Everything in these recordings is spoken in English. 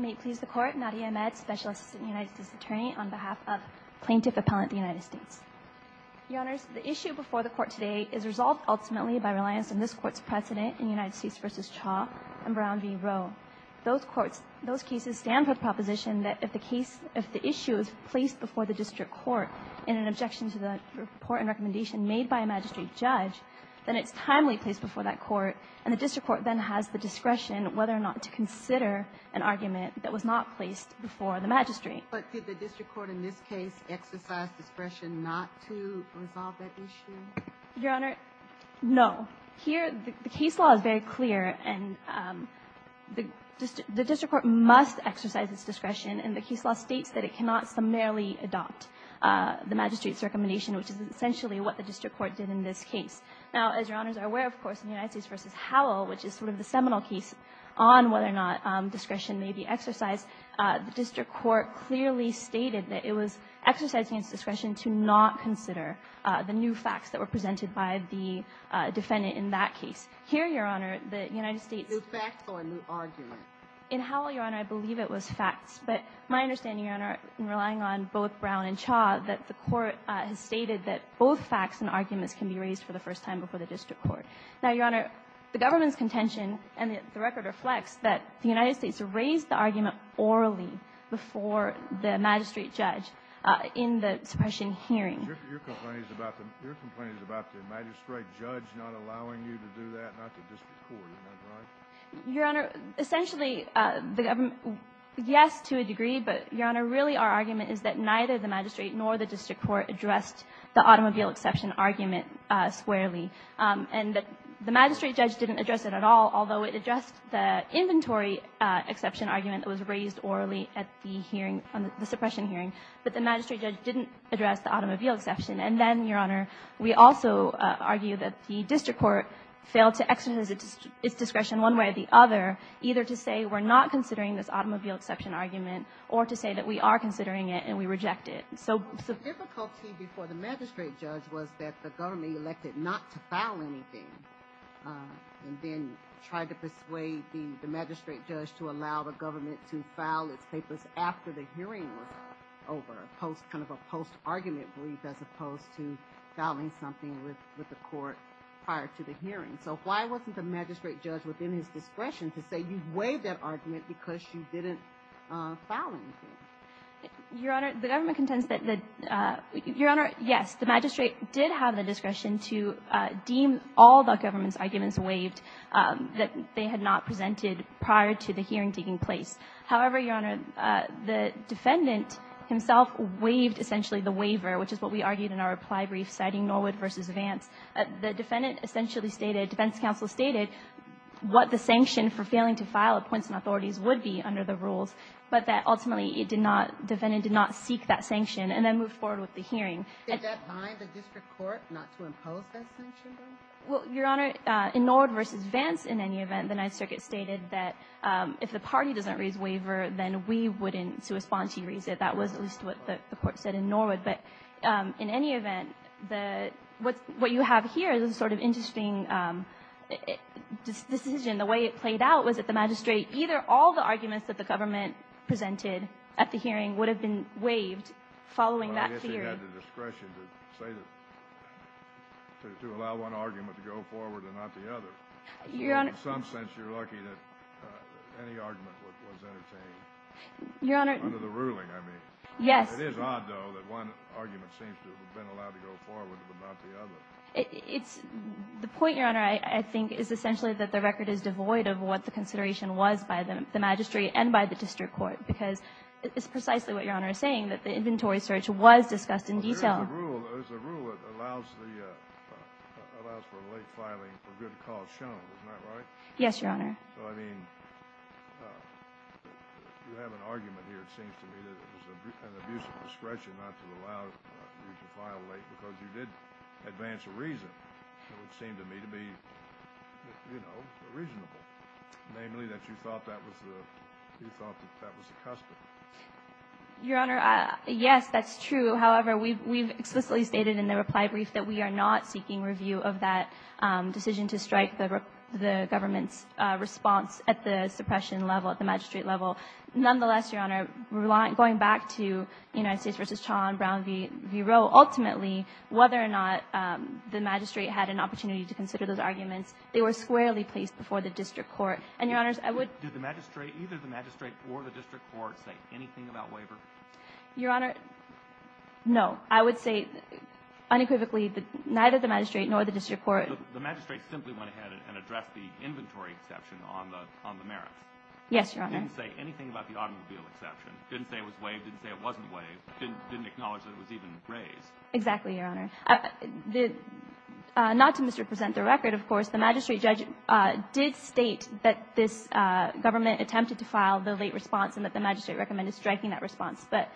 May it please the Court, Nadia Ahmed, Special Assistant United States Attorney, on behalf of Plaintiff Appellant of the United States. Your Honors, the issue before the Court today is resolved ultimately by reliance on this Court's precedent in United States v. Cha and Brown v. Roe. Those cases stand for the proposition that if the issue is placed before the District Court in an objection to the report and recommendation made by a magistrate judge, then it's timely placed before that Court, and the District Court then has the discretion whether or not to consider an argument that was not placed before the magistrate. But did the District Court in this case exercise discretion not to resolve that issue? Your Honor, no. Here the case law is very clear, and the District Court must exercise its discretion, and the case law states that it cannot summarily adopt the magistrate's recommendation, which is essentially what the District Court did in this case. Now, as Your Honors are aware, of course, in United States v. Howell, which is sort of the seminal case on whether or not discretion may be exercised, the District Court clearly stated that it was exercising its discretion to not consider the new facts that were presented by the defendant in that case. Here, Your Honor, the United States — New facts or a new argument? In Howell, Your Honor, I believe it was facts. But my understanding, Your Honor, in relying on both Brown and Chaw, that the Court has stated that both facts and arguments can be raised for the first time before the District Court. Now, Your Honor, the government's contention and the record reflects that the United States raised the argument orally before the magistrate judge in the suppression hearing. Your complaint is about the magistrate judge not allowing you to do that, not the District Court, am I right? Your Honor, essentially, the government — yes, to a degree, but, Your Honor, really our argument is that neither the magistrate nor the District Court addressed the automobile exception argument squarely, and that the magistrate judge didn't address it at all, although it addressed the inventory exception argument that was raised orally at the hearing, the suppression hearing. But the magistrate judge didn't address the automobile exception. And then, Your Honor, we also argue that the District Court failed to exercise its discretion one way or the other, either to say we're not considering this automobile exception argument or to say that we are considering it and we reject it. So the difficulty before the magistrate judge was that the government elected not to file anything and then tried to persuade the magistrate judge to allow the government to file its papers after the hearing was over, kind of a post-argument belief as opposed to filing something with the court prior to the hearing. So why wasn't the magistrate judge within his discretion to say you waived that argument because you didn't file anything? Your Honor, the government contends that — Your Honor, yes, the magistrate did have the discretion to deem all the government's arguments waived that they had not presented prior to the hearing taking place. However, Your Honor, the defendant himself waived essentially the waiver, which is what we argued in our reply brief citing Norwood v. Vance. The defendant essentially stated, defense counsel stated, what the sanction for failing to file appoints and authorities would be under the rules, but that ultimately it did not — defendant did not seek that sanction and then moved forward with the hearing. Did that bind the District Court not to impose that sanction, though? Well, Your Honor, in Norwood v. Vance, in any event, the Ninth Circuit stated that if the party doesn't raise waiver, then we wouldn't, to respond to you, raise it. That was at least what the court said in Norwood. But in any event, the — what you have here is a sort of interesting decision. The way it played out was that the magistrate — either all the arguments that the government presented at the hearing would have been waived following that theory. Well, I guess he had the discretion to say that — to allow one argument to go forward and not the other. Your Honor — Well, in some sense, you're lucky that any argument was entertained. Your Honor — Under the ruling, I mean. Yes. It is odd, though, that one argument seems to have been allowed to go forward but not the other. It's — the point, Your Honor, I think, is essentially that the record is devoid of what the consideration was by the magistrate and by the District Court, because it's precisely what Your Honor is saying, that the inventory search was discussed in detail. Well, there's a rule that allows the — allows for late filing for good cause shown. Isn't that right? Yes, Your Honor. So, I mean, you have an argument here, it seems to me, that it was an abuse of discretion not to allow you to file late because you did advance a reason that would seem to me to be, you know, reasonable, namely that you thought that was the — you thought that that was the custom. Your Honor, yes, that's true. However, we've explicitly stated in the reply brief that we are not seeking review of that decision to strike the government's response at the suppression level, at the magistrate level. Nonetheless, Your Honor, going back to United States v. Chaun, Brown v. Roe, ultimately, whether or not the magistrate had an opportunity to consider those arguments, they were squarely placed before the District Court. And, Your Honors, I would — Did the magistrate — either the magistrate or the District Court say anything about waiver? Your Honor, no. I would say unequivocally that neither the magistrate nor the District Court — The magistrate simply went ahead and addressed the inventory exception on the merits. Yes, Your Honor. Didn't say anything about the automobile exception. Didn't say it was waived. Didn't say it wasn't waived. Didn't acknowledge that it was even raised. Exactly, Your Honor. Not to misrepresent the record, of course, the magistrate judge did state that this government attempted to file the late response and that the magistrate recommended striking that response. But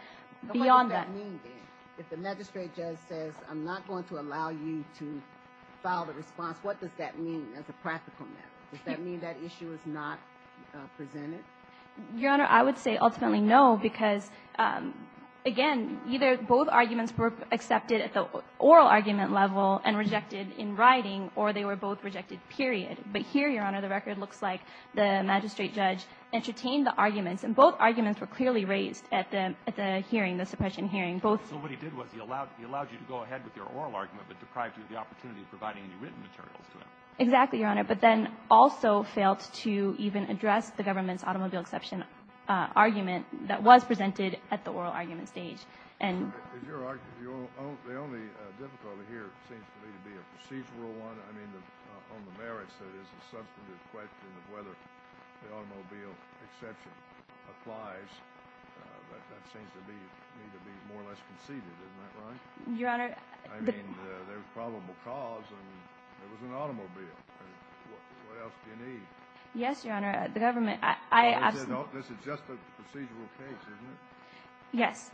beyond that — What does that mean, then? If the magistrate judge says, I'm not going to allow you to file the response, what does that mean as a practical matter? Does that mean that issue is not presented? Your Honor, I would say ultimately no, because, again, either both arguments were accepted at the oral argument level and rejected in writing, or they were both rejected, period. But here, Your Honor, the record looks like the magistrate judge entertained the hearing, the suppression hearing. So what he did was he allowed you to go ahead with your oral argument, but deprived you of the opportunity of providing any written materials to him. Exactly, Your Honor. But then also failed to even address the government's automobile exception argument that was presented at the oral argument stage. And — Your Honor, the only difficulty here seems to me to be a procedural one. I mean, on the merits, there is a substantive question of whether the automobile exception applies, but that seems to me to be more or less conceded. Isn't that right? Your Honor — I mean, there was probable cause, and it was an automobile. What else do you need? Yes, Your Honor. The government — This is just a procedural case, isn't it? Yes.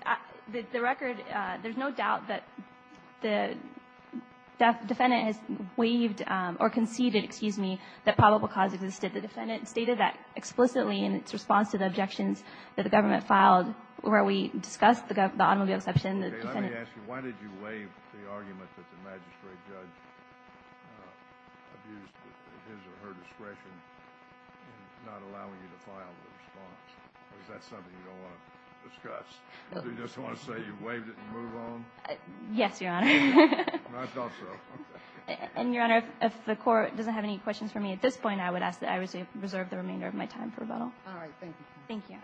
The record — there's no doubt that the defendant has waived or conceded, excuse me, that probable cause existed. The defendant stated that explicitly in its response to the objections that the government filed where we discussed the automobile exception, the defendant — Okay. Let me ask you. Why did you waive the argument that the magistrate judge abused his or her discretion in not allowing you to file the response? Is that something you don't want to discuss? Do you just want to say you waived it and move on? Yes, Your Honor. I thought so. And, Your Honor, if the Court doesn't have any questions for me at this point, I would ask that I reserve the remainder of my time for rebuttal. All right. Thank you. Thank you.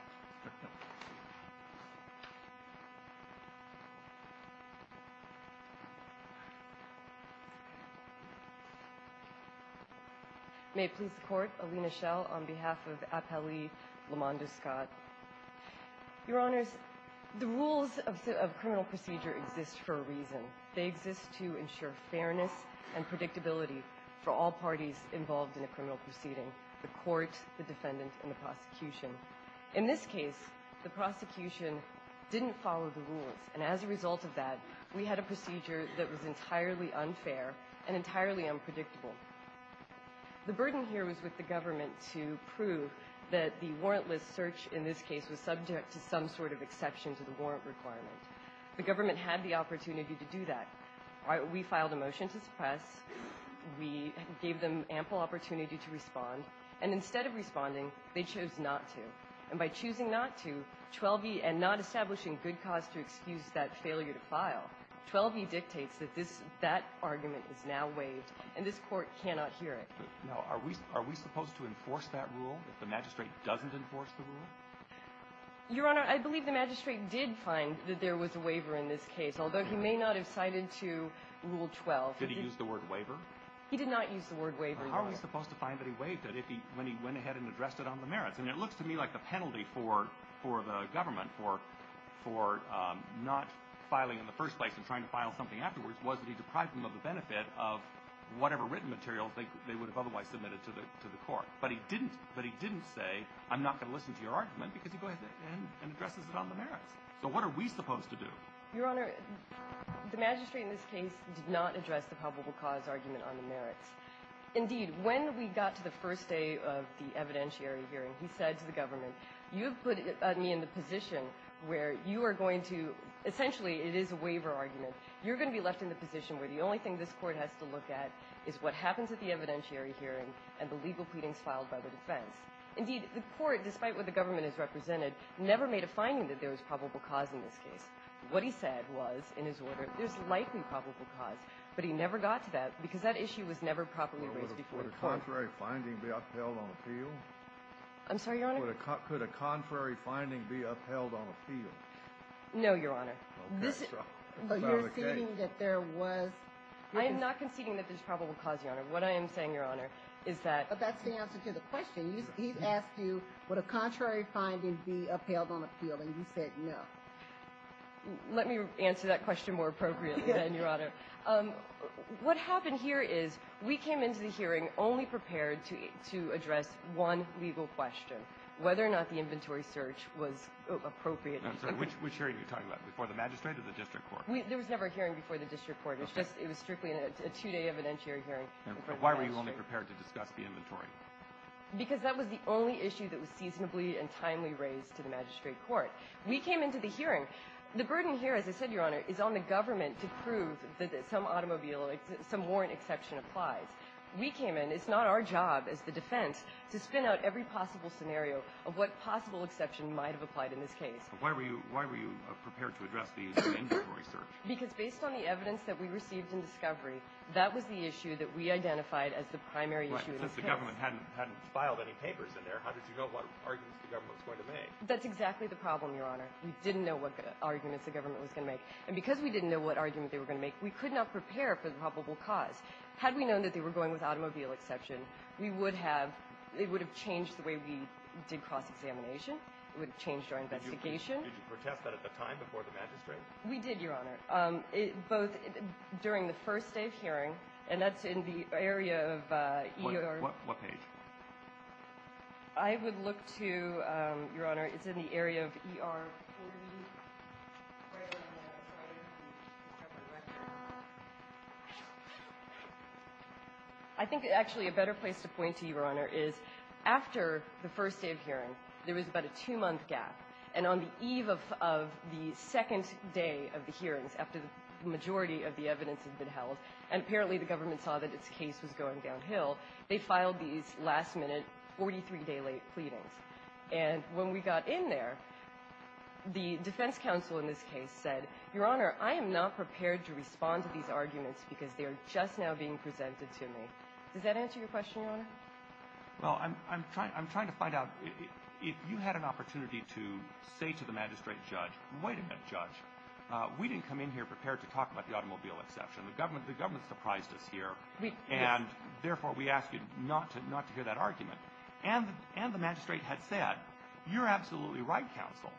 May it please the Court, Alina Schell on behalf of Appellee Lamanda Scott. Your Honors, the rules of criminal procedure exist for a reason. They exist to ensure fairness and predictability for all parties involved in a criminal proceeding, the court, the defendant, and the prosecution. In this case, the prosecution didn't follow the rules. And as a result of that, we had a procedure that was entirely unfair and entirely unpredictable. The burden here was with the government to prove that the warrantless search in this case was subject to some sort of exception to the warrant requirement. The government had the opportunity to do that. We filed a motion to suppress. We gave them ample opportunity to respond. And instead of responding, they chose not to. And by choosing not to, 12e, and not establishing good cause to excuse that failure to file, 12e dictates that that argument is now waived, and this Court cannot hear it. Now, are we supposed to enforce that rule if the magistrate doesn't enforce the rule? Your Honor, I believe the magistrate did find that there was a waiver in this case, although he may not have cited to Rule 12. Did he use the word waiver? He did not use the word waiver. How are we supposed to find that he waived it when he went ahead and addressed it on the merits? And it looks to me like the penalty for the government for not filing in the first place and trying to file something afterwards was that he deprived them of the benefit of whatever written material they would have otherwise submitted to the Court. But he didn't. But he didn't say, I'm not going to listen to your argument, because he goes ahead and addresses it on the merits. So what are we supposed to do? Your Honor, the magistrate in this case did not address the probable cause argument on the merits. Indeed, when we got to the first day of the evidentiary hearing, he said to the government, you have put me in the position where you are going to – essentially it is a waiver argument. You're going to be left in the position where the only thing this Court has to look at is what happens at the evidentiary hearing and the legal pleadings filed by the defense. Indeed, the Court, despite what the government has represented, never made a finding that there was probable cause in this case. What he said was, in his order, there's likely probable cause, but he never got to that because that issue was never properly raised before the Court. Would a contrary finding be upheld on appeal? I'm sorry, Your Honor? Could a contrary finding be upheld on appeal? No, Your Honor. You're saying that there was – I am not conceding that there's probable cause, Your Honor. What I am saying, Your Honor, is that – But that's the answer to the question. He's asked you, would a contrary finding be upheld on appeal, and you said no. Let me answer that question more appropriately, then, Your Honor. What happened here is we came into the hearing only prepared to address one legal question, whether or not the inventory search was appropriate. I'm sorry. Which hearing are you talking about, before the magistrate or the district court? There was never a hearing before the district court. It was strictly a two-day evidentiary hearing. Why were you only prepared to discuss the inventory? Because that was the only issue that was seasonably and timely raised to the magistrate court. We came into the hearing. The burden here, as I said, Your Honor, is on the government to prove that some automobile – some warrant exception applies. We came in. It's not our job as the defense to spin out every possible scenario of what possible exception might have applied in this case. But why were you – why were you prepared to address the inventory search? Because based on the evidence that we received in discovery, that was the issue that we identified as the primary issue in this case. Right. Since the government hadn't – hadn't filed any papers in there, how did you know what arguments the government was going to make? That's exactly the problem, Your Honor. We didn't know what arguments the government was going to make. And because we didn't know what argument they were going to make, we could not prepare for the probable cause. Had we known that they were going with automobile exception, we would have – it would have changed the way we did cross-examination. It would have changed our investigation. Did you protest that at the time before the magistrate? We did, Your Honor, both during the first day of hearing, and that's in the area of ER – What – what page? I would look to – Your Honor, it's in the area of ER 40. I think, actually, a better place to point to, Your Honor, is after the first day of hearings, after the majority of the evidence had been held, and apparently the government saw that its case was going downhill, they filed these last-minute, 43-day-late pleadings. And when we got in there, the defense counsel in this case said, Your Honor, I am not prepared to respond to these arguments because they are just now being presented Does that answer your question, Your Honor? Well, I'm trying – I'm trying to find out if you had an opportunity to say to the magistrate judge, wait a minute, judge, we didn't come in here prepared to talk about the automobile exception. The government – the government surprised us here. We – And, therefore, we ask you not to – not to hear that argument. And – and the magistrate had said, you're absolutely right, counsel.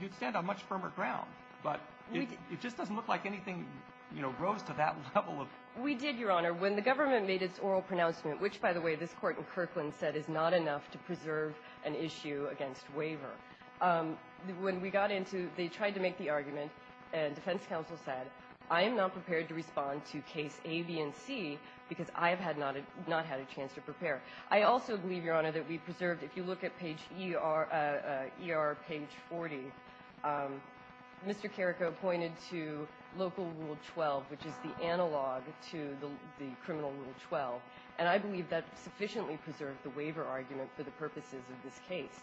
You'd stand on much firmer ground. But it just doesn't look like anything, you know, rose to that level of – We did, Your Honor. When the government made its oral pronouncement, which, by the way, this Court in Kirkland said is not enough to preserve an issue against waiver, when we got into – they tried to make the argument, and defense counsel said, I am not prepared to respond to case A, B, and C because I have had not – not had a chance to prepare. I also believe, Your Honor, that we preserved – if you look at page ER – ER page 40, Mr. Carrico pointed to local rule 12, which is the analog to the criminal rule 12. And I believe that sufficiently preserved the waiver argument for the purposes of this case.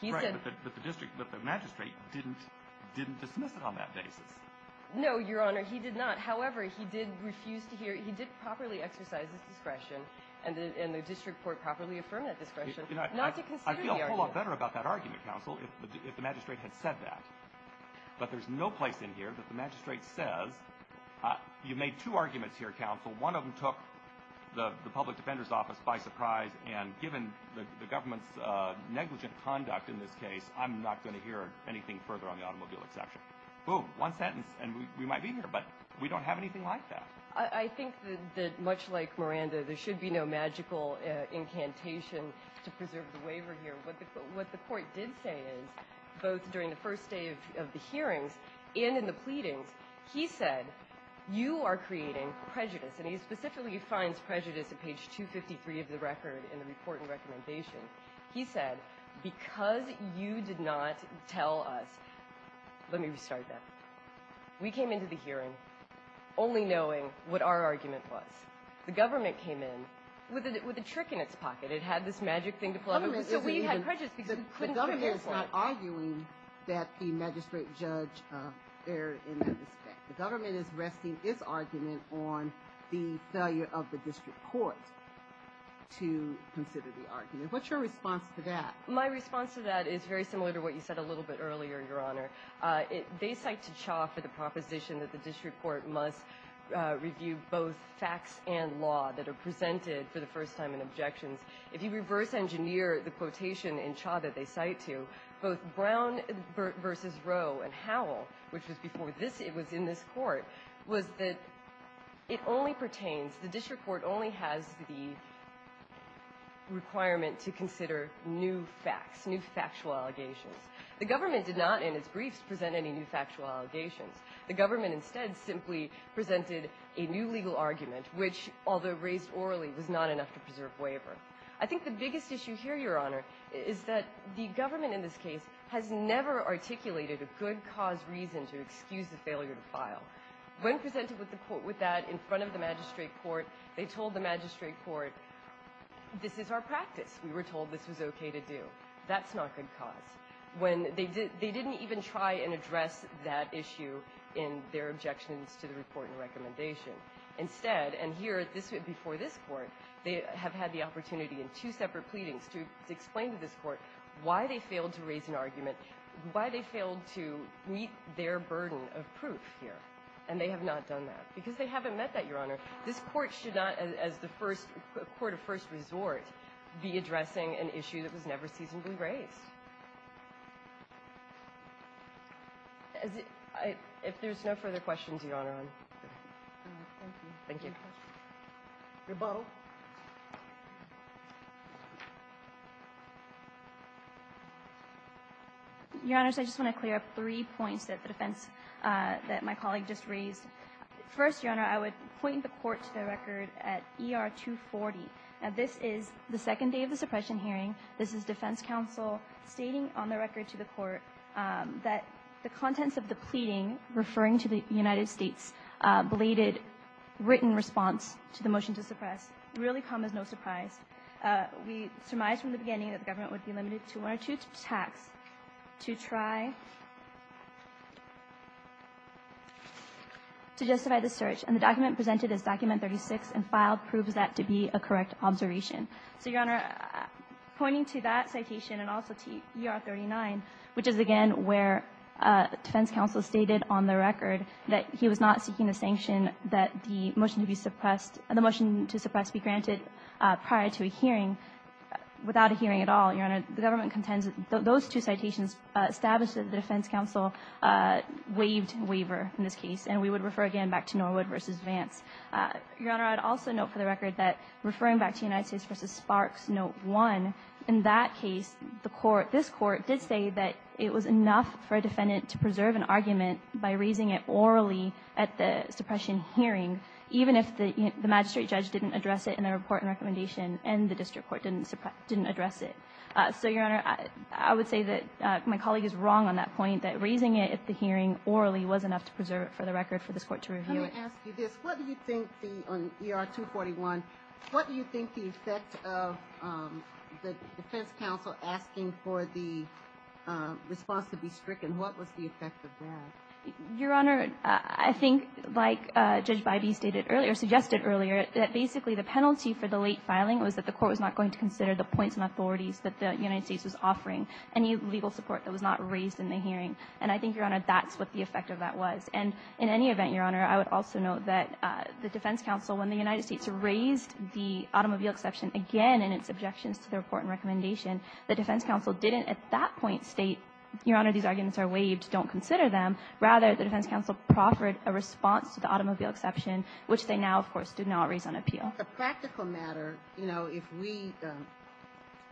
He said – Right. But the district – but the magistrate didn't – didn't dismiss it on that basis. No, Your Honor. He did not. However, he did refuse to hear – he did properly exercise his discretion, and the district court properly affirmed that discretion, not to consider the argument. I would have felt better about that argument, counsel, if the magistrate had said that. But there's no place in here that the magistrate says, you've made two arguments here, counsel. One of them took the public defender's office by surprise, and given the government's negligent conduct in this case, I'm not going to hear anything further on the automobile exception. Boom. One sentence, and we might be here, but we don't have anything like that. I think that, much like Miranda, there should be no magical incantation to preserve the argument. What the court did say is, both during the first day of the hearings and in the pleadings, he said, you are creating prejudice. And he specifically finds prejudice at page 253 of the record in the report and recommendation. He said, because you did not tell us – let me restart that. We came into the hearing only knowing what our argument was. The government came in with a trick in its pocket. It had this magic thing to plug in. So we had prejudice because we couldn't hear the report. The government is not arguing that the magistrate judge erred in that respect. The government is resting its argument on the failure of the district court to consider the argument. What's your response to that? My response to that is very similar to what you said a little bit earlier, Your Honor. They cite T'Challa for the proposition that the district court must review both facts and law that are presented for the first time in objections. If you reverse engineer the quotation in T'Challa that they cite to, both Brown versus Roe and Howell, which was before this – it was in this court, was that it only pertains – the district court only has the requirement to consider new facts, new factual allegations. The government did not, in its briefs, present any new factual allegations. The government instead simply presented a new legal argument, which, although raised orally, was not enough to preserve waiver. I think the biggest issue here, Your Honor, is that the government in this case has never articulated a good cause reason to excuse the failure to file. When presented with that in front of the magistrate court, they told the magistrate court, this is our practice. We were told this was okay to do. That's not good cause. When – they didn't even try and address that issue in their objections to the report and recommendation. Instead, and here at this – before this court, they have had the opportunity in two separate pleadings to explain to this court why they failed to raise an argument, why they failed to meet their burden of proof here. And they have not done that, because they haven't met that, Your Honor. This court should not, as the first – court of first resort, be addressing an issue that was never seasonably raised. If there's no further questions, Your Honor, I'm good. Thank you. Thank you. Rebuttal. Your Honors, I just want to clear up three points that the defense – that my colleague just raised. First, Your Honor, I would point the court to the record at ER-240. Now, this is the second day of the suppression hearing. This is defense counsel stating on the record to the court that the contents of the pleading referring to the United States-bladed written response to the motion to suppress really come as no surprise. We surmised from the beginning that the government would be limited to one or two attacks to try to justify the search. And the document presented as Document 36 and filed proves that to be a correct observation. So, Your Honor, pointing to that citation and also to ER-39, which is, again, where defense counsel stated on the record that he was not seeking the sanction that the motion to be suppressed – the motion to suppress be granted prior to a hearing without a hearing at all, Your Honor, the government contends that those two citations establish that the defense counsel waived waiver in this case, and we would refer again back to Norwood v. Vance. Your Honor, I'd also note for the record that referring back to United States v. Sparks Note 1, in that case, the court – this court did say that it was enough for a defendant to preserve an argument by raising it orally at the suppression hearing, even if the magistrate judge didn't address it in the report and recommendation and the district court didn't address it. So, Your Honor, I would say that my colleague is wrong on that point, that raising it at the hearing orally was enough to preserve it for the record for this court to review. I want to ask you this. What do you think the – on ER-241, what do you think the effect of the defense counsel asking for the response to be stricken, what was the effect of that? Your Honor, I think, like Judge Bybee stated earlier – suggested earlier, that basically the penalty for the late filing was that the court was not going to consider the points and authorities that the United States was offering, any legal support that was not raised in the hearing. And I think, Your Honor, that's what the effect of that was. And in any event, Your Honor, I would also note that the defense counsel, when the United States raised the automobile exception again in its objections to the report and recommendation, the defense counsel didn't at that point state, Your Honor, these arguments are waived, don't consider them. Rather, the defense counsel proffered a response to the automobile exception, which they now, of course, did not raise on appeal. The practical matter, you know, if we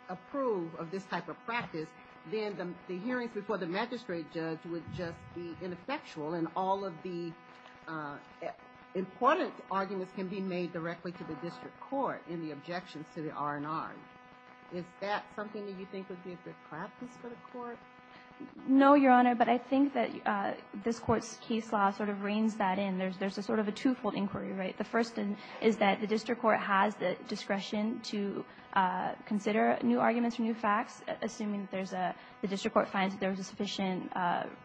approve of this type of practice, then the hearings before the magistrate judge would just be ineffectual and all of the important arguments can be made directly to the district court in the objections to the R&R. Is that something that you think would be a good practice for the court? No, Your Honor, but I think that this Court's case law sort of reigns that in. There's a sort of a twofold inquiry, right? The first is that the district court has the discretion to consider new arguments or new facts, assuming that there's a – the district court finds that there's a sufficient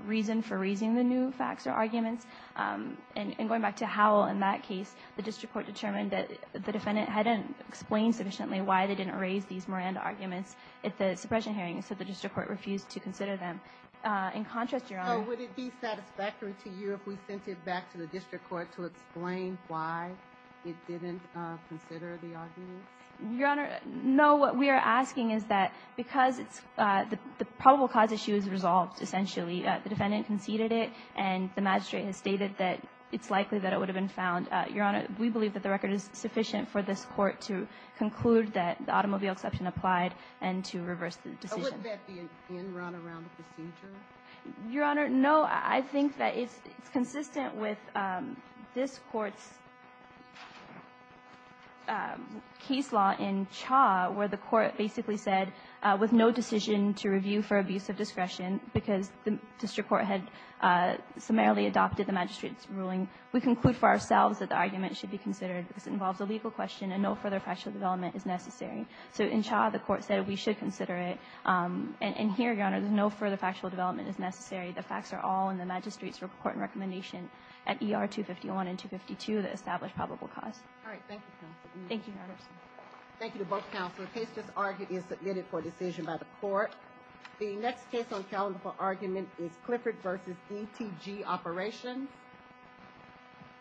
reason for raising the new facts or arguments. And going back to Howell in that case, the district court determined that the defendant hadn't explained sufficiently why they didn't raise these Miranda arguments at the suppression hearing, so the district court refused to consider them. In contrast, Your Honor – So would it be satisfactory to you if we sent it back to the district court to explain why it didn't consider the arguments? Your Honor, no. What we are asking is that because it's – the probable cause issue is resolved, essentially. The defendant conceded it, and the magistrate has stated that it's likely that it would have been found. Your Honor, we believe that the record is sufficient for this Court to conclude that the automobile exception applied and to reverse the decision. But wouldn't that be an in run around the procedure? Your Honor, no. I think that it's consistent with this Court's case law in Cha where the Court basically said with no decision to review for abuse of discretion because the district court had summarily adopted the magistrate's ruling, we conclude for ourselves that the argument should be considered because it involves a legal question and no further factual development is necessary. So in Cha, the Court said we should consider it. And here, Your Honor, no further factual development is necessary. The facts are all in the magistrate's report and recommendation at ER 251 and 252 that establish probable cause. All right. Thank you, counsel. Thank you, Your Honor. Thank you to both counsel. The case just argued is submitted for decision by the Court. The next case on the calendar for argument is Clifford v. DTG Operation.